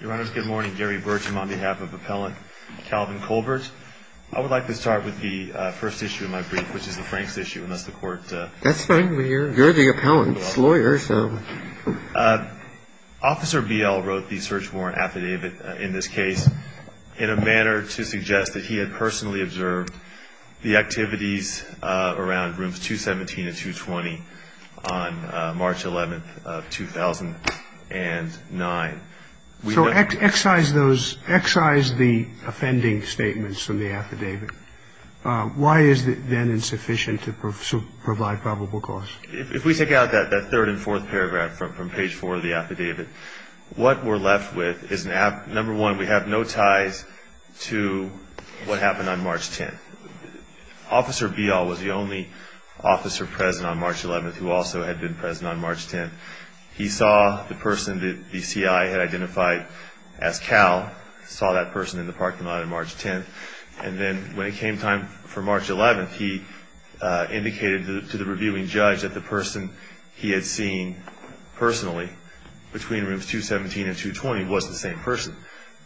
Your Honor, good morning. Gary Bertram on behalf of Appellant Calvin Colbert. I would like to start with the first issue of my brief, which is the Franks issue. That's fine. You're the appellant's lawyer, so... Officer Biel wrote the search warrant affidavit in this case in a manner to suggest that he had personally observed the activities around rooms 217 and 220 on March 11th of 2009. So excise the offending statements from the affidavit. Why is it then insufficient to provide probable cause? If we take out that third and fourth paragraph from page four of the affidavit, what we're left with is, number one, we have no ties to what happened on March 10th. Officer Biel was the only officer present on March 11th who also had been present on March 10th. He saw the person that the CI had identified as Cal, saw that person in the parking lot on March 10th, and then when it came time for March 11th, he indicated to the reviewing judge that the person he had seen personally between rooms 217 and 220 was the same person.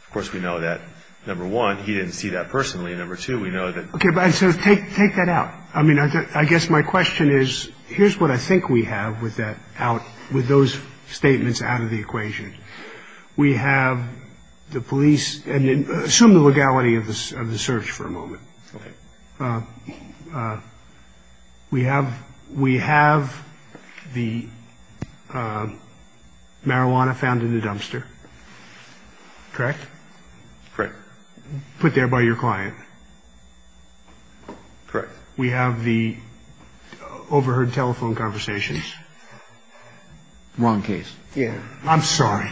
Of course, we know that, number one, he didn't see that personally, and number two, we know that. Okay, so take that out. I mean, I guess my question is, here's what I think we have with that out, with those statements out of the equation. We have the police, and assume the legality of the search for a moment. Okay. We have the marijuana found in the dumpster, correct? Correct. Put there by your client. Correct. We have the overheard telephone conversations. Wrong case. Yeah. I'm sorry.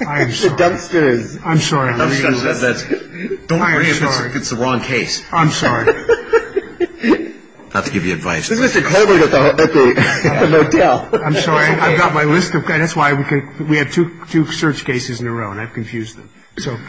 I'm sorry. It's the dumpsters. I'm sorry. Don't worry if it's the wrong case. I'm sorry. Not to give you advice. This is Mr. Colbert at the motel. I'm sorry. I've got my list. That's why we have two search cases in a row, and I've confused them.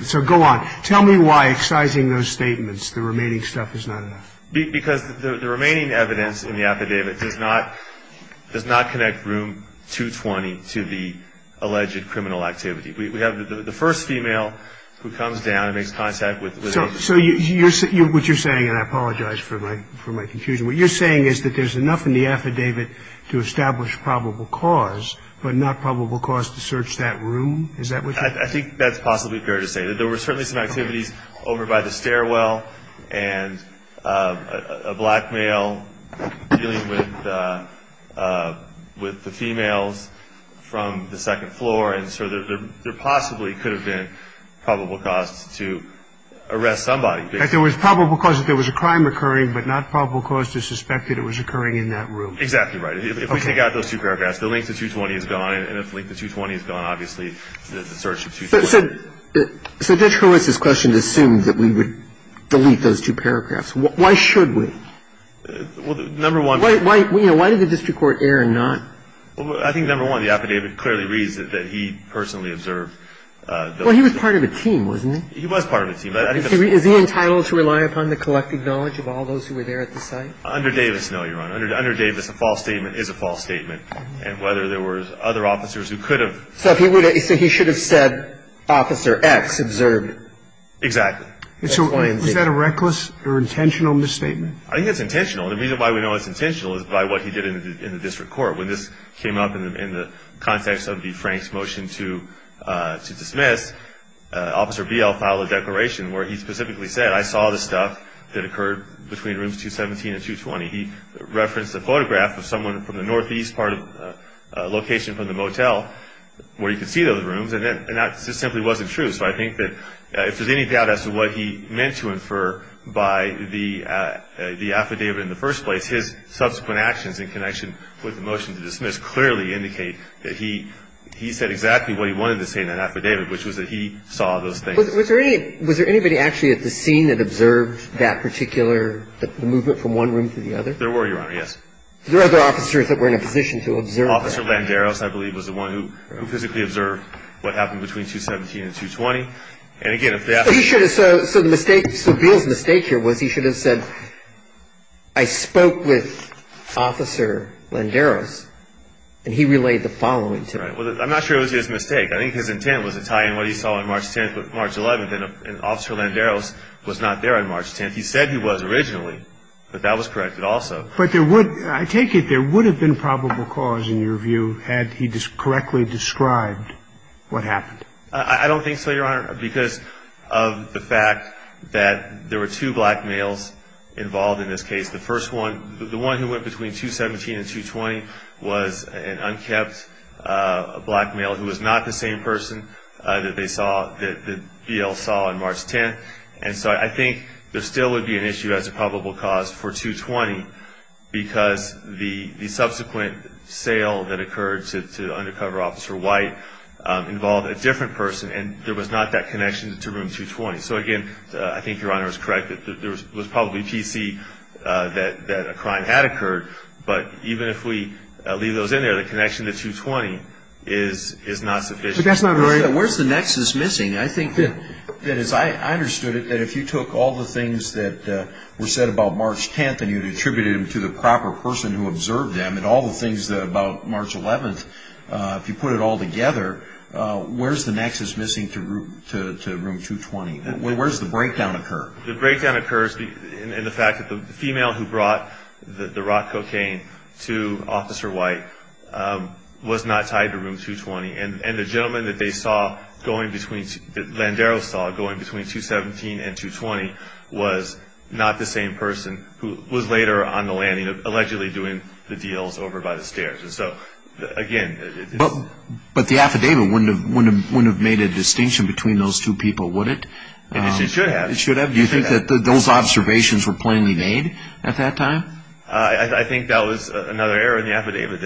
So go on. Tell me why, excising those statements, the remaining stuff is not enough. Because the remaining evidence in the affidavit does not connect room 220 to the alleged criminal activity. We have the first female who comes down and makes contact with a ---- So what you're saying, and I apologize for my confusion, what you're saying is that there's enough in the affidavit to establish probable cause, but not probable cause to search that room? Is that what you're saying? I think that's possibly fair to say. There were certainly some activities over by the stairwell, and a black male dealing with the females from the second floor, and so there possibly could have been probable cause to arrest somebody. There was probable cause if there was a crime occurring, but not probable cause to suspect that it was occurring in that room. Exactly right. If we take out those two paragraphs, the link to 220 is gone, and if the link to 220 is gone, obviously the search of 220. So Judge Horwitz's question assumes that we would delete those two paragraphs. Why should we? Well, number one ---- Why did the district court err not? I think, number one, the affidavit clearly reads that he personally observed ---- Well, he was part of a team, wasn't he? He was part of a team. Is he entitled to rely upon the collected knowledge of all those who were there at the site? Under Davis, no, Your Honor. Under Davis, a false statement is a false statement. And whether there were other officers who could have ---- So if he would have ---- So he should have said, Officer X observed. Exactly. Was that a reckless or intentional misstatement? I think it's intentional. The reason why we know it's intentional is by what he did in the district court. When this came up in the context of the Frank's motion to dismiss, Officer Biel filed a declaration where he specifically said, I saw the stuff that occurred between rooms 217 and 220. He referenced a photograph of someone from the northeast part of the location from the motel where he could see those rooms. And that simply wasn't true. So I think that if there's any doubt as to what he meant to infer by the affidavit in the first place, his subsequent actions in connection with the motion to dismiss clearly indicate that he said exactly what he wanted to say in that affidavit, which was that he saw those things. Was there anybody actually at the scene that observed that particular movement from one room to the other? There were, Your Honor, yes. Were there other officers that were in a position to observe that? Officer Landeros, I believe, was the one who physically observed what happened between 217 and 220. And again, if that's ---- So Biel's mistake here was he should have said, I spoke with Officer Landeros, and he relayed the following to him. I'm not sure it was his mistake. I think his intent was to tie in what he saw on March 10th with March 11th, and Officer Landeros was not there on March 10th. He said he was originally, but that was corrected also. But there would ---- I take it there would have been probable cause, in your view, had he correctly described what happened. I don't think so, Your Honor, because of the fact that there were two black males involved in this case. The first one, the one who went between 217 and 220, was an unkept black male who was not the same person that Biel saw on March 10th. And so I think there still would be an issue as to probable cause for 220, because the subsequent sale that occurred to Undercover Officer White involved a different person, and there was not that connection to room 220. So, again, I think Your Honor is correct that there was probably TC that a crime had occurred, but even if we leave those in there, the connection to 220 is not sufficient. But that's not what I'm saying. Where's the nexus missing? I think that, as I understood it, that if you took all the things that were said about March 10th and you attributed them to the proper person who observed them, and all the things about March 11th, if you put it all together, where's the nexus missing to room 220? Where does the breakdown occur? The breakdown occurs in the fact that the female who brought the rock cocaine to Officer White was not tied to room 220, and the gentleman that Landero saw going between 217 and 220 was not the same person who was later on the landing, allegedly doing the deals over by the stairs. So, again, it's... But the affidavit wouldn't have made a distinction between those two people, would it? It should have. It should have. Do you think that those observations were plainly made at that time? I think that was another error in the affidavit,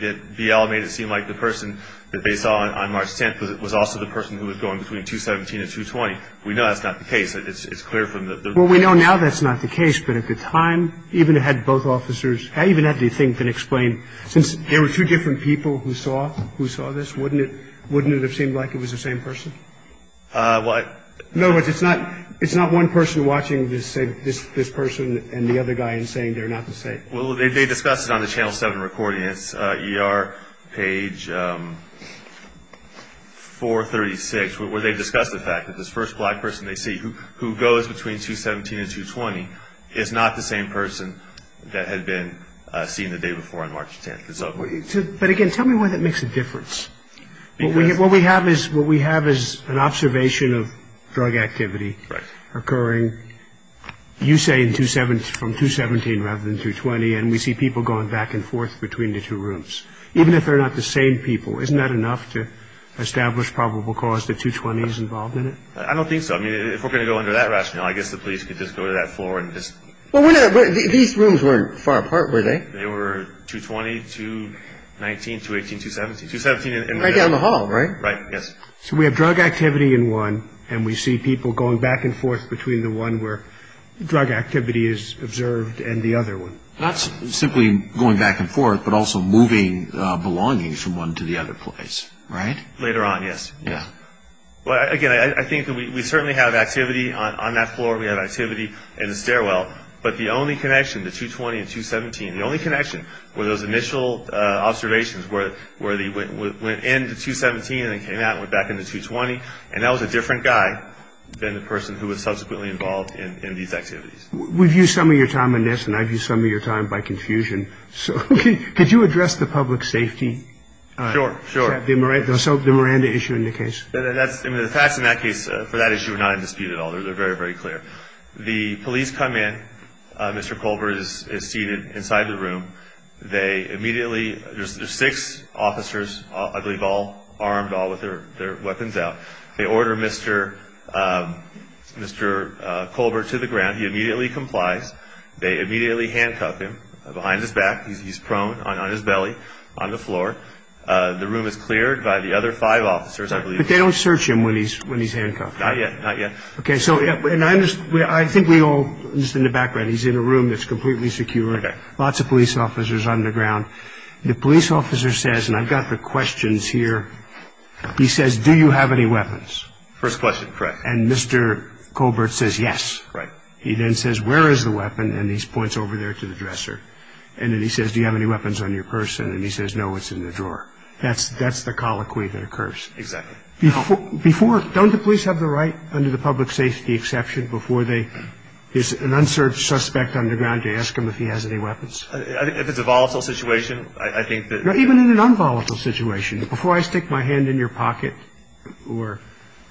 that BL made it seem like the person that they saw on March 10th was also the person who was going between 217 and 220. We know that's not the case. It's clear from the... Well, we know now that's not the case, but at the time, even if it had both officers, I even have to think and explain, since there were two different people who saw this, wouldn't it have seemed like it was the same person? No, but it's not one person watching this person and the other guy and saying they're not the same. Well, they discussed it on the Channel 7 recording. It's ER page 436, where they discussed the fact that this first black person they see, who goes between 217 and 220, is not the same person that had been seen the day before on March 10th. But, again, tell me why that makes a difference. Because... What we have is an observation of drug activity occurring, you say, from 217 rather than 220, and we see people going back and forth between the two rooms. Even if they're not the same people, isn't that enough to establish probable cause that 220 is involved in it? I don't think so. I mean, if we're going to go under that rationale, I guess the police could just go to that floor and just... These rooms weren't far apart, were they? They were 220, 219, 218, 217. Right down the hall, right? Right, yes. So we have drug activity in one, and we see people going back and forth between the one where drug activity is observed and the other one. Not simply going back and forth, but also moving belongings from one to the other place. Right? Later on, yes. Yeah. Well, again, I think we certainly have activity on that floor. We have activity in the stairwell. But the only connection, the 220 and 217, the only connection were those initial observations where they went in the 217 and then came out and went back in the 220, and that was a different guy than the person who was subsequently involved in these activities. We've used some of your time on this, and I've used some of your time by confusion. Could you address the public safety? Sure, sure. The Miranda issue in the case. The facts in that case for that issue are not in dispute at all. They're very, very clear. The police come in. Mr. Colbert is seated inside the room. They immediately, there's six officers, I believe, all armed, all with their weapons out. They order Mr. Colbert to the ground. He immediately complies. They immediately handcuff him behind his back. He's prone on his belly on the floor. The room is cleared by the other five officers, I believe. But they don't search him when he's handcuffed? Not yet, not yet. Okay, so I think we all, just in the background, he's in a room that's completely secure. Lots of police officers on the ground. The police officer says, and I've got the questions here, he says, do you have any weapons? First question, correct. And Mr. Colbert says, yes. Right. He then says, where is the weapon, and he points over there to the dresser. And then he says, do you have any weapons on your person? And he says, no, it's in the drawer. That's the colloquy that occurs. Exactly. Before, don't the police have the right, under the public safety exception, before they, there's an unserved suspect on the ground, you ask him if he has any weapons? If it's a volatile situation, I think that. Even in an unvolatile situation, before I stick my hand in your pocket or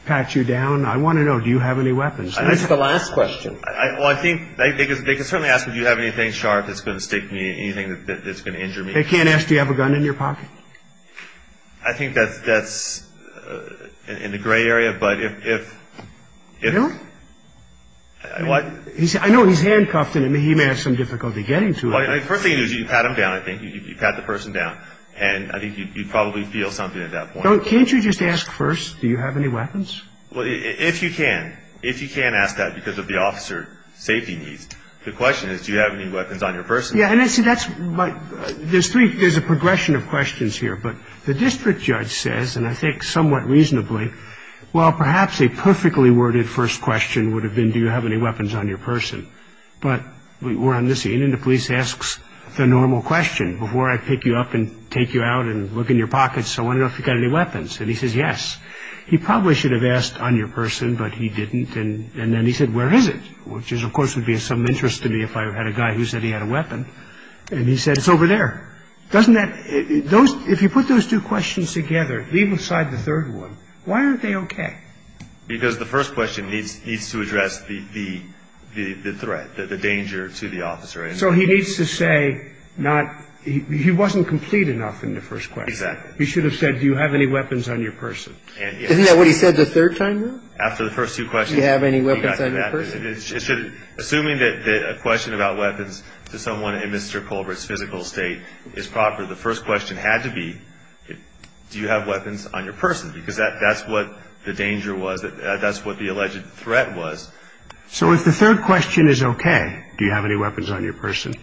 pat you down, I want to know, do you have any weapons? That's the last question. Well, I think, they can certainly ask, do you have anything sharp that's going to stick me, anything that's going to injure me? They can't ask, do you have a gun in your pocket? I think that's in the gray area, but if. No. I know he's handcuffed, and he may have some difficulty getting to it. The first thing you do is you pat him down, I think. You pat the person down, and I think you probably feel something at that point. Can't you just ask first, do you have any weapons? Well, if you can, if you can ask that because of the officer's safety needs, the question is, do you have any weapons on your person? Yeah, and see, there's a progression of questions here. But the district judge says, and I think somewhat reasonably, well, perhaps a perfectly worded first question would have been, do you have any weapons on your person? But we're on this scene, and the police asks the normal question. Before I pick you up and take you out and look in your pockets, I want to know if you've got any weapons, and he says yes. He probably should have asked on your person, but he didn't. And then he said, where is it? Which, of course, would be of some interest to me if I had a guy who said he had a weapon. And he said, it's over there. Doesn't that – if you put those two questions together, leave aside the third one, why aren't they okay? Because the first question needs to address the threat, the danger to the officer. So he needs to say not – he wasn't complete enough in the first question. Exactly. He should have said, do you have any weapons on your person? Isn't that what he said the third time, though? After the first two questions. Do you have any weapons on your person? Assuming that a question about weapons to someone in Mr. Colbert's physical state is proper, the first question had to be, do you have weapons on your person? Because that's what the danger was. That's what the alleged threat was. So if the third question is okay, do you have any weapons on your person,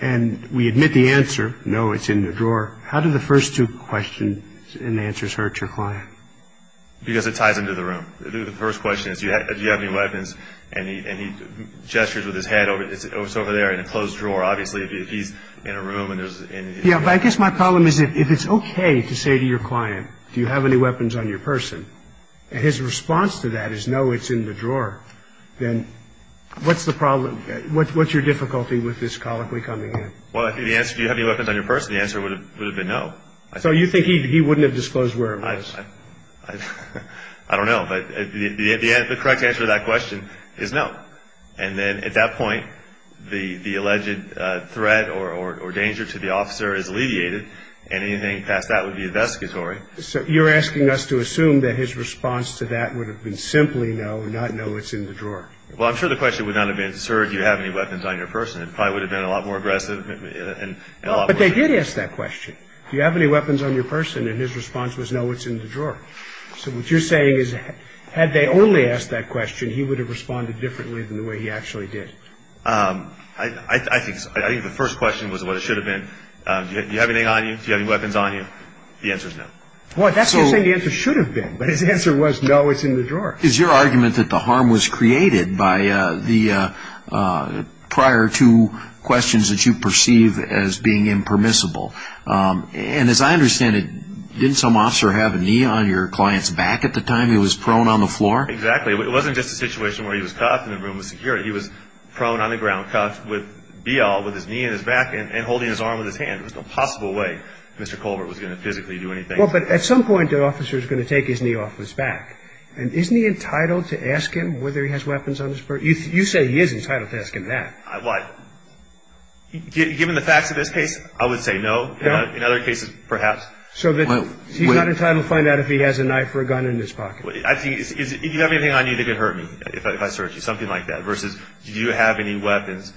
and we admit the answer, no, it's in the drawer, how do the first two questions and answers hurt your client? Because it ties into the room. The first question is, do you have any weapons? And he gestures with his head, it's over there in a closed drawer. Obviously, if he's in a room and there's – Yeah, but I guess my problem is, if it's okay to say to your client, do you have any weapons on your person, and his response to that is, no, it's in the drawer, then what's the problem – what's your difficulty with this colloquy coming in? Well, I think the answer, do you have any weapons on your person, the answer would have been no. So you think he wouldn't have disclosed where it was? I don't know, but the correct answer to that question is no. And then at that point, the alleged threat or danger to the officer is alleviated, and anything past that would be investigatory. So you're asking us to assume that his response to that would have been simply no, not no, it's in the drawer. Well, I'm sure the question would not have been, sir, do you have any weapons on your person? It probably would have been a lot more aggressive and a lot more – But they did ask that question. Do you have any weapons on your person? And his response was no, it's in the drawer. So what you're saying is, had they only asked that question, he would have responded differently than the way he actually did. I think the first question was what it should have been. Do you have anything on you? Do you have any weapons on you? The answer is no. Well, that's what you're saying the answer should have been, but his answer was no, it's in the drawer. It's your argument that the harm was created by the prior two questions that you perceive as being impermissible. And as I understand it, didn't some officer have a knee on your client's back at the time he was prone on the floor? Exactly. It wasn't just a situation where he was cuffed in a room of security. He was prone on the ground, cuffed with be-all with his knee in his back and holding his arm with his hand. There was no possible way Mr. Colbert was going to physically do anything. Well, but at some point, the officer is going to take his knee off his back. And isn't he entitled to ask him whether he has weapons on his back? You say he is entitled to ask him that. What? Given the facts of this case, I would say no. In other cases, perhaps. So he's not entitled to find out if he has a knife or a gun in his pocket. Do you have anything on you that could hurt me if I searched you? Something like that. Versus do you have any weapons?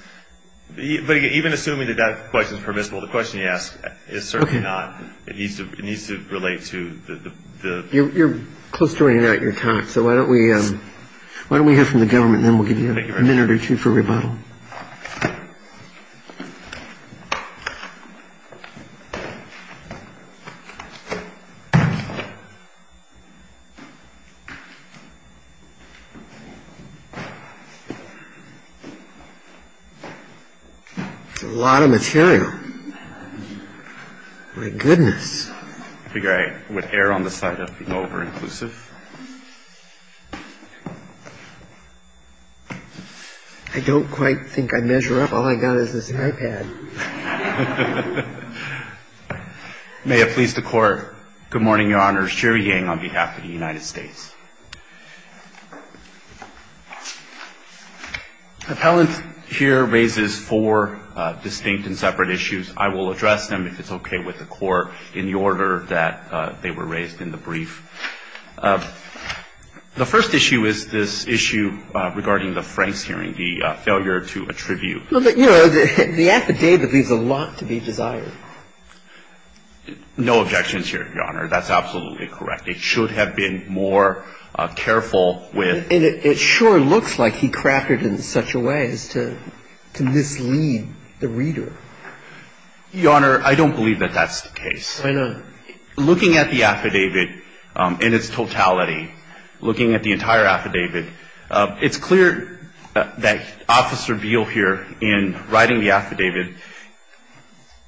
But even assuming that that question is permissible, the question you ask is certainly not. It needs to relate to the... So why don't we... Why don't we hear from the government and then we'll give you a minute or two for rebuttal. That's a lot of material. My goodness. Please. I figure I would err on the side of being over-inclusive. I don't quite think I'd measure up. All I've got is this iPad. May it please the Court. Good morning, Your Honor. Sherry Yang on behalf of the United States. Appellant here raises four distinct and separate issues. I will address them if it's okay with the Court in the order that they were raised in the brief. The first issue is this issue regarding the Franks hearing, the failure to attribute. Well, you know, the affidavit leaves a lot to be desired. No objections here, Your Honor. That's absolutely correct. It should have been more careful with... Your Honor, I don't believe that that's the case. Why not? Looking at the affidavit in its totality, looking at the entire affidavit, it's clear that Officer Beal here in writing the affidavit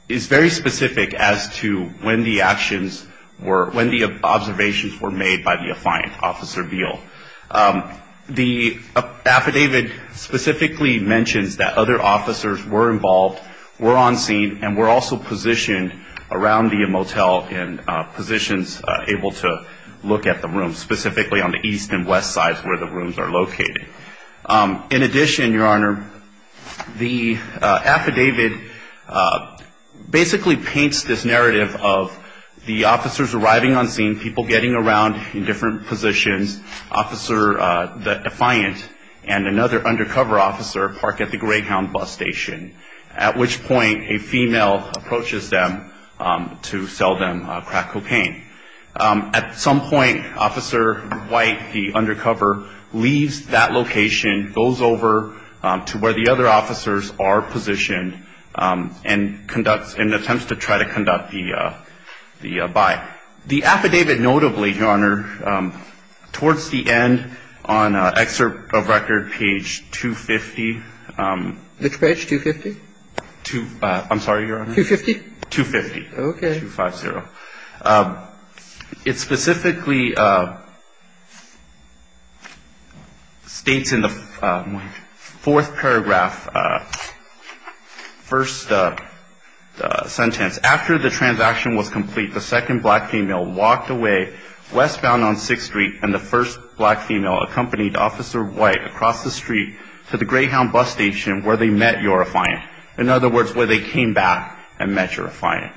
is very specific as to when the actions were, when the observations were made by the affiant, Officer Beal. The affidavit specifically mentions that other officers were involved, were on scene, and were also positioned around the motel in positions able to look at the rooms, specifically on the east and west sides where the rooms are located. In addition, Your Honor, the affidavit basically paints this narrative of the officers arriving on scene, people getting around in different positions, Officer, the affiant, and another undercover officer park at the Greyhound bus station, at which point a female approaches them to sell them crack cocaine. At some point, Officer White, the undercover, leaves that location, goes over to where the other officers are positioned, and attempts to try to conduct the buy. The affidavit notably, Your Honor, towards the end on excerpt of record page 250. Which page, 250? I'm sorry, Your Honor. 250? 250. Okay. 250. It specifically states in the fourth paragraph, first sentence, after the transaction was complete, the second black female walked away westbound on 6th Street, and the first black female accompanied Officer White across the street to the Greyhound bus station where they met Your Affiant. In other words, where they came back and met Your Affiant.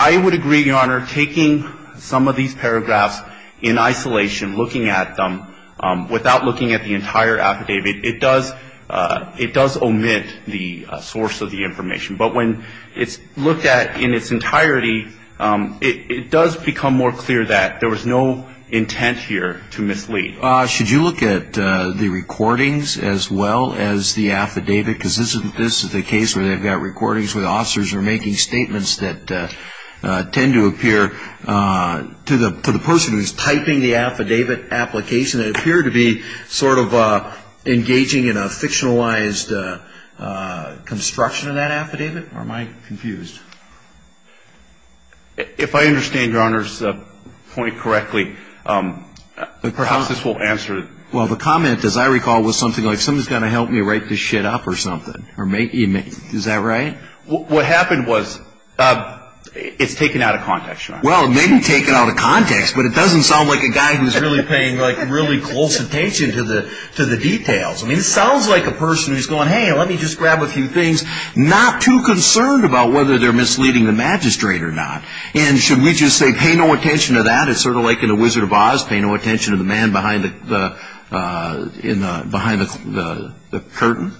I would agree, Your Honor, taking some of these paragraphs in isolation, looking at them without looking at the entire affidavit, it does omit the source of the information. But when it's looked at in its entirety, it does become more clear that there was no intent here to mislead. Should you look at the recordings as well as the affidavit? Because this is the case where they've got recordings where the officers are making statements that tend to appear, to the person who's typing the affidavit application, sort of engaging in a fictionalized construction of that affidavit? Or am I confused? If I understand Your Honor's point correctly, perhaps this will answer it. Well, the comment, as I recall, was something like, someone's going to help me write this shit up or something. Is that right? Well, maybe take it out of context, but it doesn't sound like a guy who's really paying, like, really close attention to the details. I mean, it sounds like a person who's going, hey, let me just grab a few things, not too concerned about whether they're misleading the magistrate or not. And should we just say, pay no attention to that? It's sort of like in The Wizard of Oz, pay no attention to the man behind the curtain?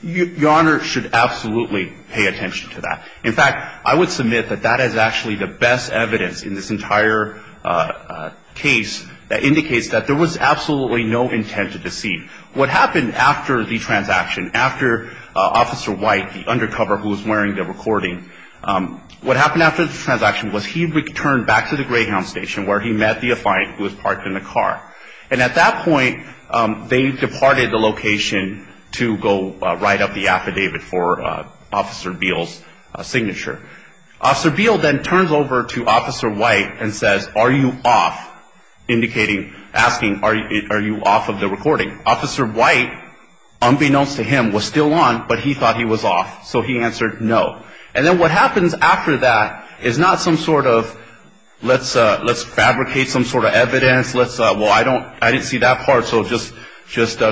Your Honor should absolutely pay attention to that. In fact, I would submit that that is actually the best evidence in this entire case that indicates that there was absolutely no intent to deceive. What happened after the transaction, after Officer White, the undercover who was wearing the recording, what happened after the transaction was he returned back to the Greyhound Station, where he met the affiant who was parked in the car. And at that point, they departed the location to go write up the affidavit for Officer Beale's signature. Officer Beale then turns over to Officer White and says, are you off? Indicating, asking, are you off of the recording? Officer White, unbeknownst to him, was still on, but he thought he was off, so he answered no. And then what happens after that is not some sort of, let's fabricate some sort of evidence, let's, well, I didn't see that part, so just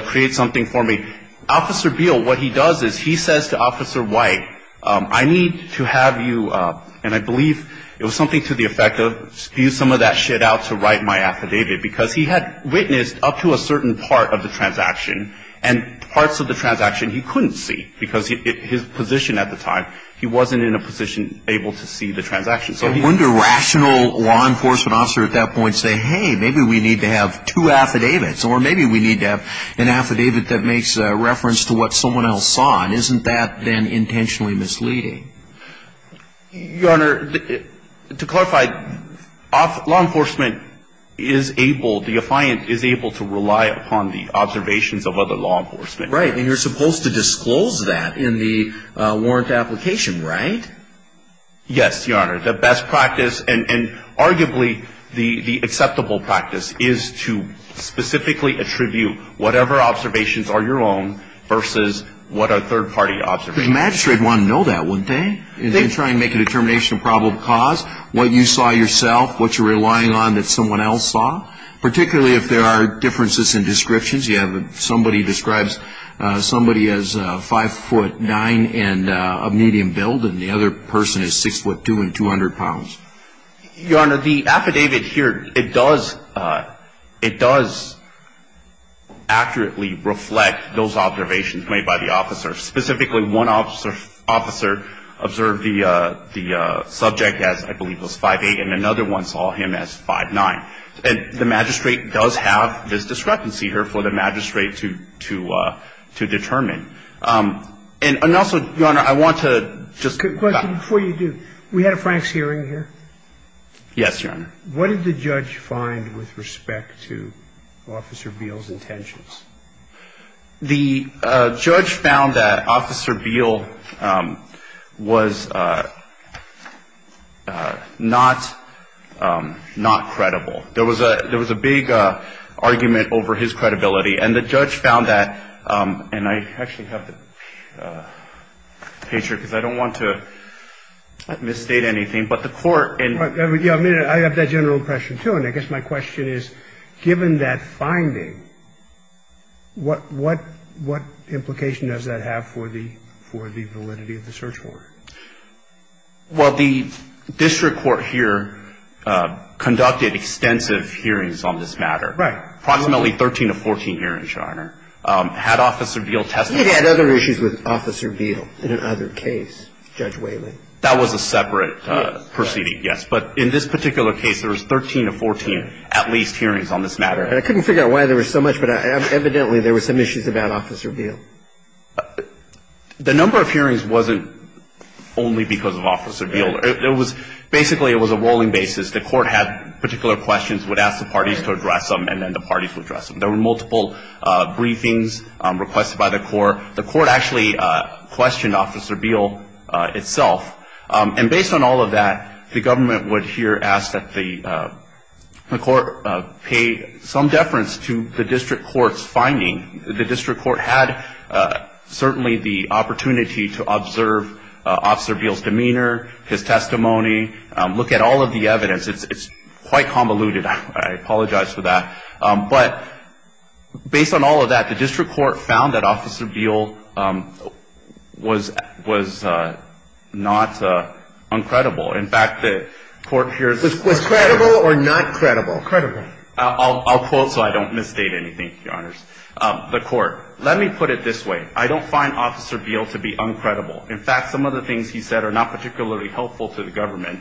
create something for me. Officer Beale, what he does is he says to Officer White, I need to have you, and I believe it was something to the effect of, use some of that shit out to write my affidavit, because he had witnessed up to a certain part of the transaction, and parts of the transaction he couldn't see, because his position at the time, he wasn't in a position able to see the transaction. So wouldn't a rational law enforcement officer at that point say, hey, maybe we need to have two affidavits, or maybe we need to have an affidavit that makes reference to what someone else saw, and isn't that then intentionally misleading? Your Honor, to clarify, law enforcement is able, the affiant is able to rely upon the observations of other law enforcement. Right, and you're supposed to disclose that in the warrant application, right? Yes, Your Honor. The best practice, and arguably the acceptable practice, is to specifically attribute whatever observations are your own, versus what are third-party observations. The magistrate would want to know that, wouldn't they? They try to make a determination of probable cause, what you saw yourself, what you're relying on that someone else saw, particularly if there are differences in descriptions. You have somebody describes somebody as 5'9 and a medium build, and the other person is 6'2 and 200 pounds. Your Honor, the affidavit here, it does accurately reflect those observations made by the officer. Specifically, one officer observed the subject as, I believe, was 5'8, and another one saw him as 5'9. And the magistrate does have this discrepancy here for the magistrate to determine. And also, Your Honor, I want to just back up. Before you do, we had a Frank's hearing here. Yes, Your Honor. What did the judge find with respect to Officer Beal's intentions? The judge found that Officer Beal was not credible. There was a big argument over his credibility. And the judge found that, and I actually have the page here because I don't want to misstate anything. But the court in the court. I have that general impression, too. And I guess my question is, given that finding, what implication does that have for the validity of the search warrant? Well, the district court here conducted extensive hearings on this matter. Right. Approximately 13 to 14 hearings, Your Honor. Had Officer Beal testified? It had other issues with Officer Beal in another case, Judge Whaley. That was a separate proceeding, yes. But in this particular case, there was 13 to 14 at least hearings on this matter. And I couldn't figure out why there was so much, but evidently there were some issues about Officer Beal. The number of hearings wasn't only because of Officer Beal. It was basically it was a rolling basis. The court had particular questions, would ask the parties to address them, and then the parties would address them. There were multiple briefings requested by the court. The court actually questioned Officer Beal itself. And based on all of that, the government would here ask that the court pay some deference to the district court's finding. The district court had certainly the opportunity to observe Officer Beal's demeanor, his testimony, look at all of the evidence. It's quite convoluted. I apologize for that. But based on all of that, the district court found that Officer Beal was not uncredible. In fact, the court here. Was credible or not credible? Credible. I'll quote so I don't misstate anything, Your Honors. The court, let me put it this way. I don't find Officer Beal to be uncredible. In fact, some of the things he said are not particularly helpful to the government.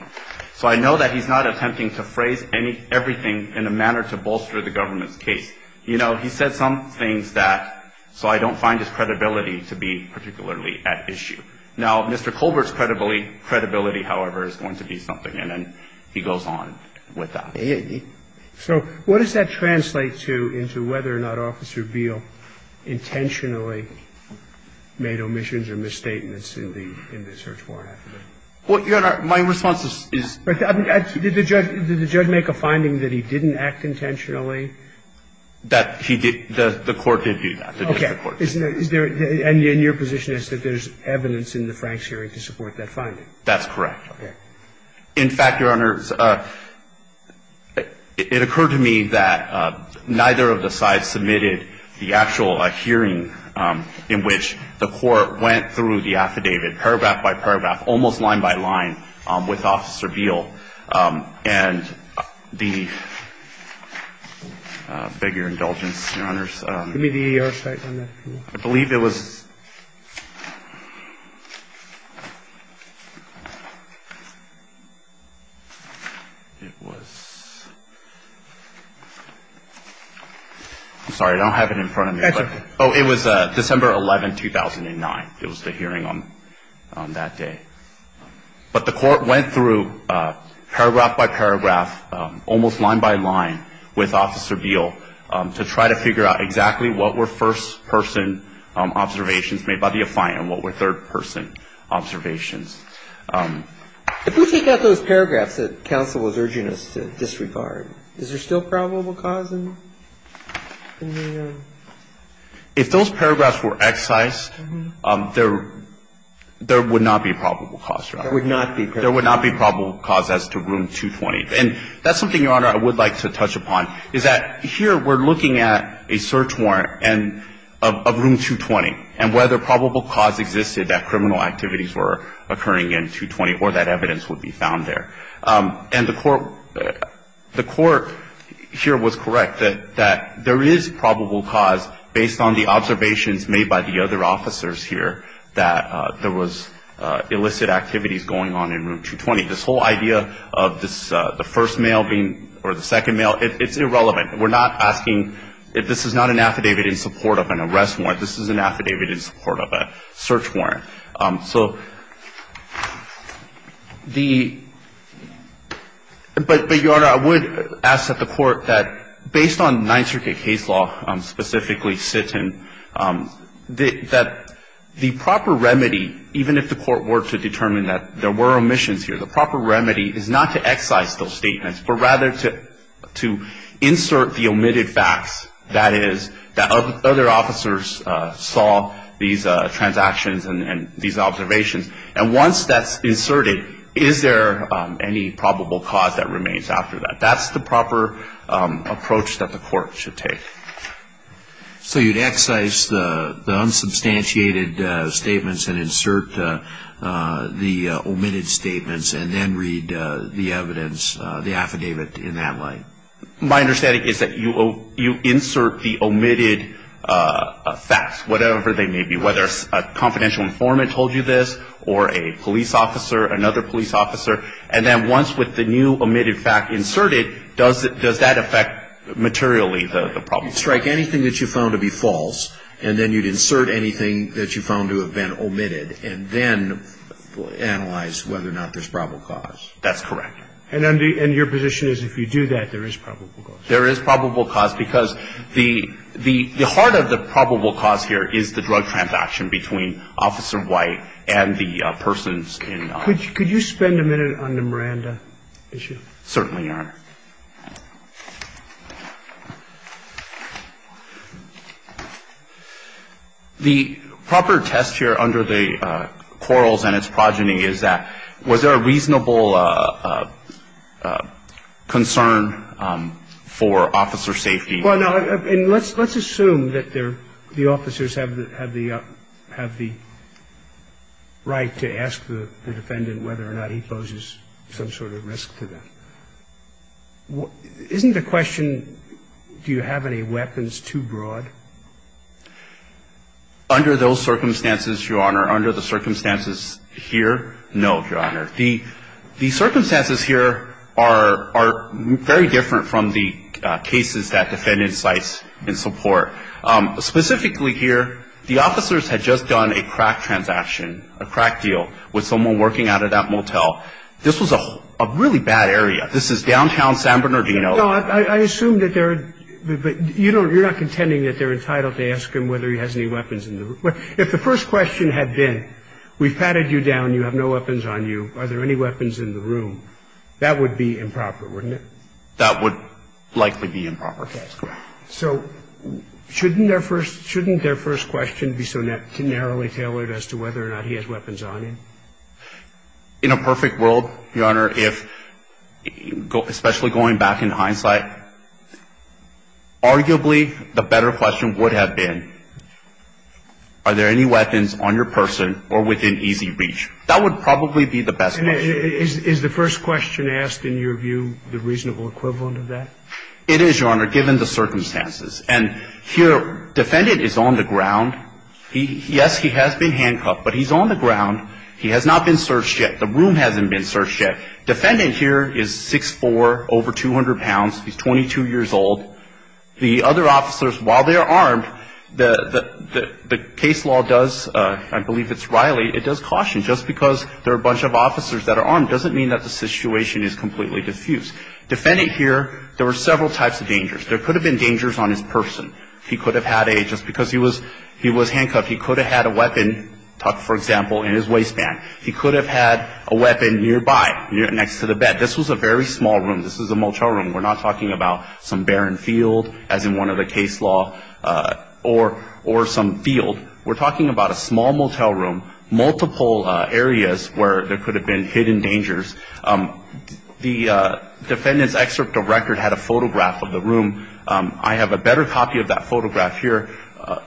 So I know that he's not attempting to phrase everything in a manner to bolster the government's case. You know, he said some things that, so I don't find his credibility to be particularly at issue. Now, Mr. Colbert's credibility, however, is going to be something. And he goes on with that. So what does that translate to into whether or not Officer Beal intentionally made omissions or misstatements in the search warrant? Well, Your Honor, my response is. Did the judge make a finding that he didn't act intentionally? That he did. The court did do that. Okay. And your position is that there's evidence in the Franks hearing to support that finding? That's correct. Okay. In fact, Your Honors, it occurred to me that neither of the sides submitted the actual hearing in which the court went through the affidavit paragraph by paragraph, almost line by line, with Officer Beal. And the, I beg your indulgence, Your Honors. Give me the E.R. Cite on that. I believe it was, it was, I'm sorry, I don't have it in front of me. Oh, it was December 11, 2009. It was the hearing on that day. But the court went through paragraph by paragraph, almost line by line, with Officer Beal to try to figure out exactly what were first-person observations made by the affiant and what were third-person observations. If we take out those paragraphs that counsel was urging us to disregard, is there still probable cause in the? If those paragraphs were excised, there would not be probable cause, Your Honor. There would not be probable cause. There would not be probable cause as to Room 220. And that's something, Your Honor, I would like to touch upon, is that here we're looking at a search warrant of Room 220 and whether probable cause existed that criminal activities were occurring in 220 or that evidence would be found there. And the court here was correct that there is probable cause based on the observations made by the other officers here that there was illicit activities going on in Room 220. This whole idea of the first male being, or the second male, it's irrelevant. We're not asking if this is not an affidavit in support of an arrest warrant. This is an affidavit in support of a search warrant. So the — but, Your Honor, I would ask that the court, that based on Ninth Circuit case law, specifically Sitton, that the proper remedy, even if the court were to determine that there were omissions here, the proper remedy is not to excise those statements, but rather to insert the omitted facts, that is, that other officers saw these transactions and these observations. And once that's inserted, is there any probable cause that remains after that? That's the proper approach that the court should take. So you'd excise the unsubstantiated statements and insert the omitted statements and then read the evidence, the affidavit, in that light? My understanding is that you insert the omitted facts, whatever they may be, whether a confidential informant told you this or a police officer, another police officer, and then once with the new omitted fact inserted, does that affect materially the problem? Strike anything that you found to be false and then you'd insert anything that you found to have been omitted and then analyze whether or not there's probable cause. That's correct. And your position is if you do that, there is probable cause? There is probable cause because the heart of the probable cause here is the drug transaction between Officer White and the persons in the case. Could you spend a minute on the Miranda issue? Certainly, Your Honor. The proper test here under the quarrels and its progeny is that was there a reasonable concern for officer safety? Well, no, and let's assume that the officers have the right to ask the defendant whether or not he poses some sort of risk to them. Isn't the question do you have any weapons too broad? Under those circumstances, Your Honor, under the circumstances here, no, Your Honor. The circumstances here are very different from the cases that defendant cites in support. Specifically here, the officers had just done a crack transaction, a crack deal, with someone working out of that motel. This was a really bad area. This is downtown San Bernardino. No, I assume that they're you're not contending that they're entitled to ask him whether he has any weapons. If the first question had been we've patted you down, you have no weapons on you, are there any weapons in the room, that would be improper, wouldn't it? That would likely be improper. So shouldn't their first shouldn't their first question be so narrowly tailored as to whether or not he has weapons on him? In a perfect world, Your Honor, if especially going back in hindsight, arguably the better question would have been are there any weapons on your person or within easy reach? That would probably be the best question. Is the first question asked in your view the reasonable equivalent of that? It is, Your Honor, given the circumstances. And here defendant is on the ground. Yes, he has been handcuffed, but he's on the ground. He has not been searched yet. The room hasn't been searched yet. Defendant here is 6'4", over 200 pounds. He's 22 years old. The other officers, while they're armed, the case law does, I believe it's Riley, it does caution. Just because there are a bunch of officers that are armed doesn't mean that the situation is completely diffused. Defendant here, there were several types of dangers. There could have been dangers on his person. He could have had a, just because he was handcuffed, he could have had a weapon, for example, in his waistband. He could have had a weapon nearby, next to the bed. This was a very small room. This is a motel room. We're not talking about some barren field, as in one of the case law, or some field. We're talking about a small motel room, multiple areas where there could have been hidden dangers. The defendant's excerpt of record had a photograph of the room. I have a better copy of that photograph here,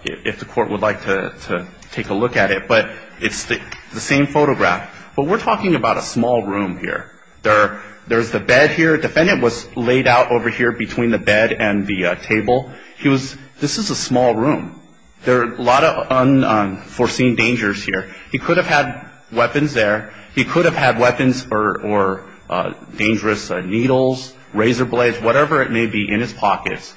if the court would like to take a look at it. But it's the same photograph. But we're talking about a small room here. There's the bed here. The defendant was laid out over here between the bed and the table. He was, this is a small room. There are a lot of unforeseen dangers here. He could have had weapons there. He could have had weapons or dangerous needles, razor blades, whatever it may be in his pockets.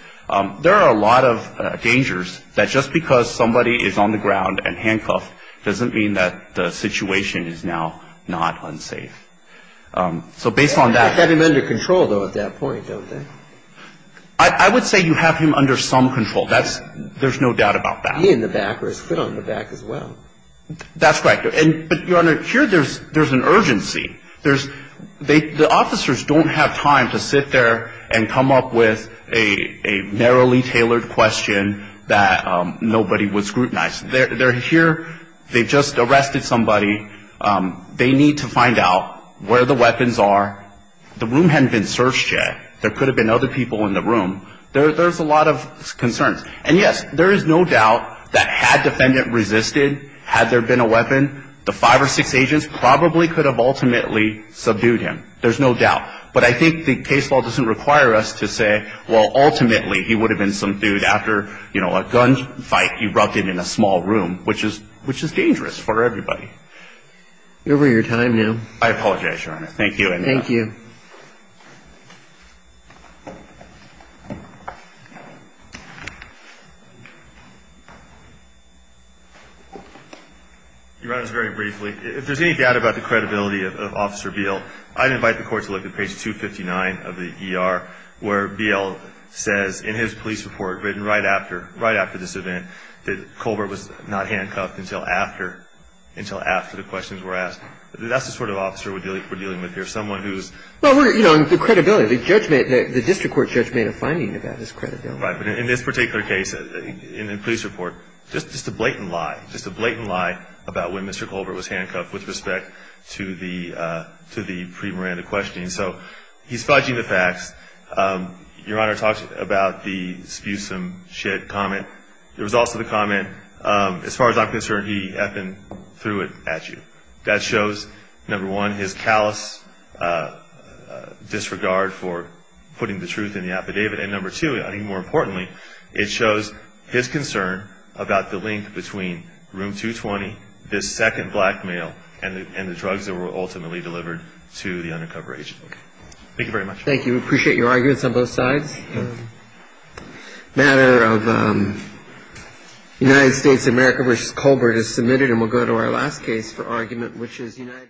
There are a lot of dangers that just because somebody is on the ground and handcuffed doesn't mean that the situation is now not unsafe. So based on that. They have him under control, though, at that point, don't they? I would say you have him under some control. There's no doubt about that. He in the back or his foot on the back as well. That's correct. But, Your Honor, here there's an urgency. The officers don't have time to sit there and come up with a narrowly tailored question that nobody would scrutinize. They're here. They just arrested somebody. They need to find out where the weapons are. The room hadn't been searched yet. There could have been other people in the room. There's a lot of concerns. And, yes, there is no doubt that had defendant resisted, had there been a weapon, the five or six agents probably could have ultimately subdued him. There's no doubt. But I think the case law doesn't require us to say, well, ultimately he would have been subdued after a gunfight erupted in a small room, which is dangerous for everybody. You're over your time now. I apologize, Your Honor. Thank you. Thank you. Thank you. Your Honor, very briefly, if there's any doubt about the credibility of Officer Beal, I'd invite the court to look at page 259 of the ER, where Beal says in his police report written right after this event that Colbert was not handcuffed until after the questions were asked. That's the sort of officer we're dealing with here, someone who's... Well, we're, you know, the credibility. The district court judge made a finding about his credibility. Right. But in this particular case, in the police report, just a blatant lie. Just a blatant lie about when Mr. Colbert was handcuffed with respect to the pre-Miranda questioning. So he's fudging the facts. Your Honor talks about the spewsome shed comment. There was also the comment, as far as I'm concerned, he effing threw it at you. That shows, number one, his callous disregard for putting the truth in the affidavit. And number two, I think more importantly, it shows his concern about the link between Room 220, this second blackmail, and the drugs that were ultimately delivered to the undercover agent. Thank you very much. Thank you. We appreciate your arguments on both sides. A matter of United States-America v. Colbert is submitted, and we'll go to our last case for argument, which is United States-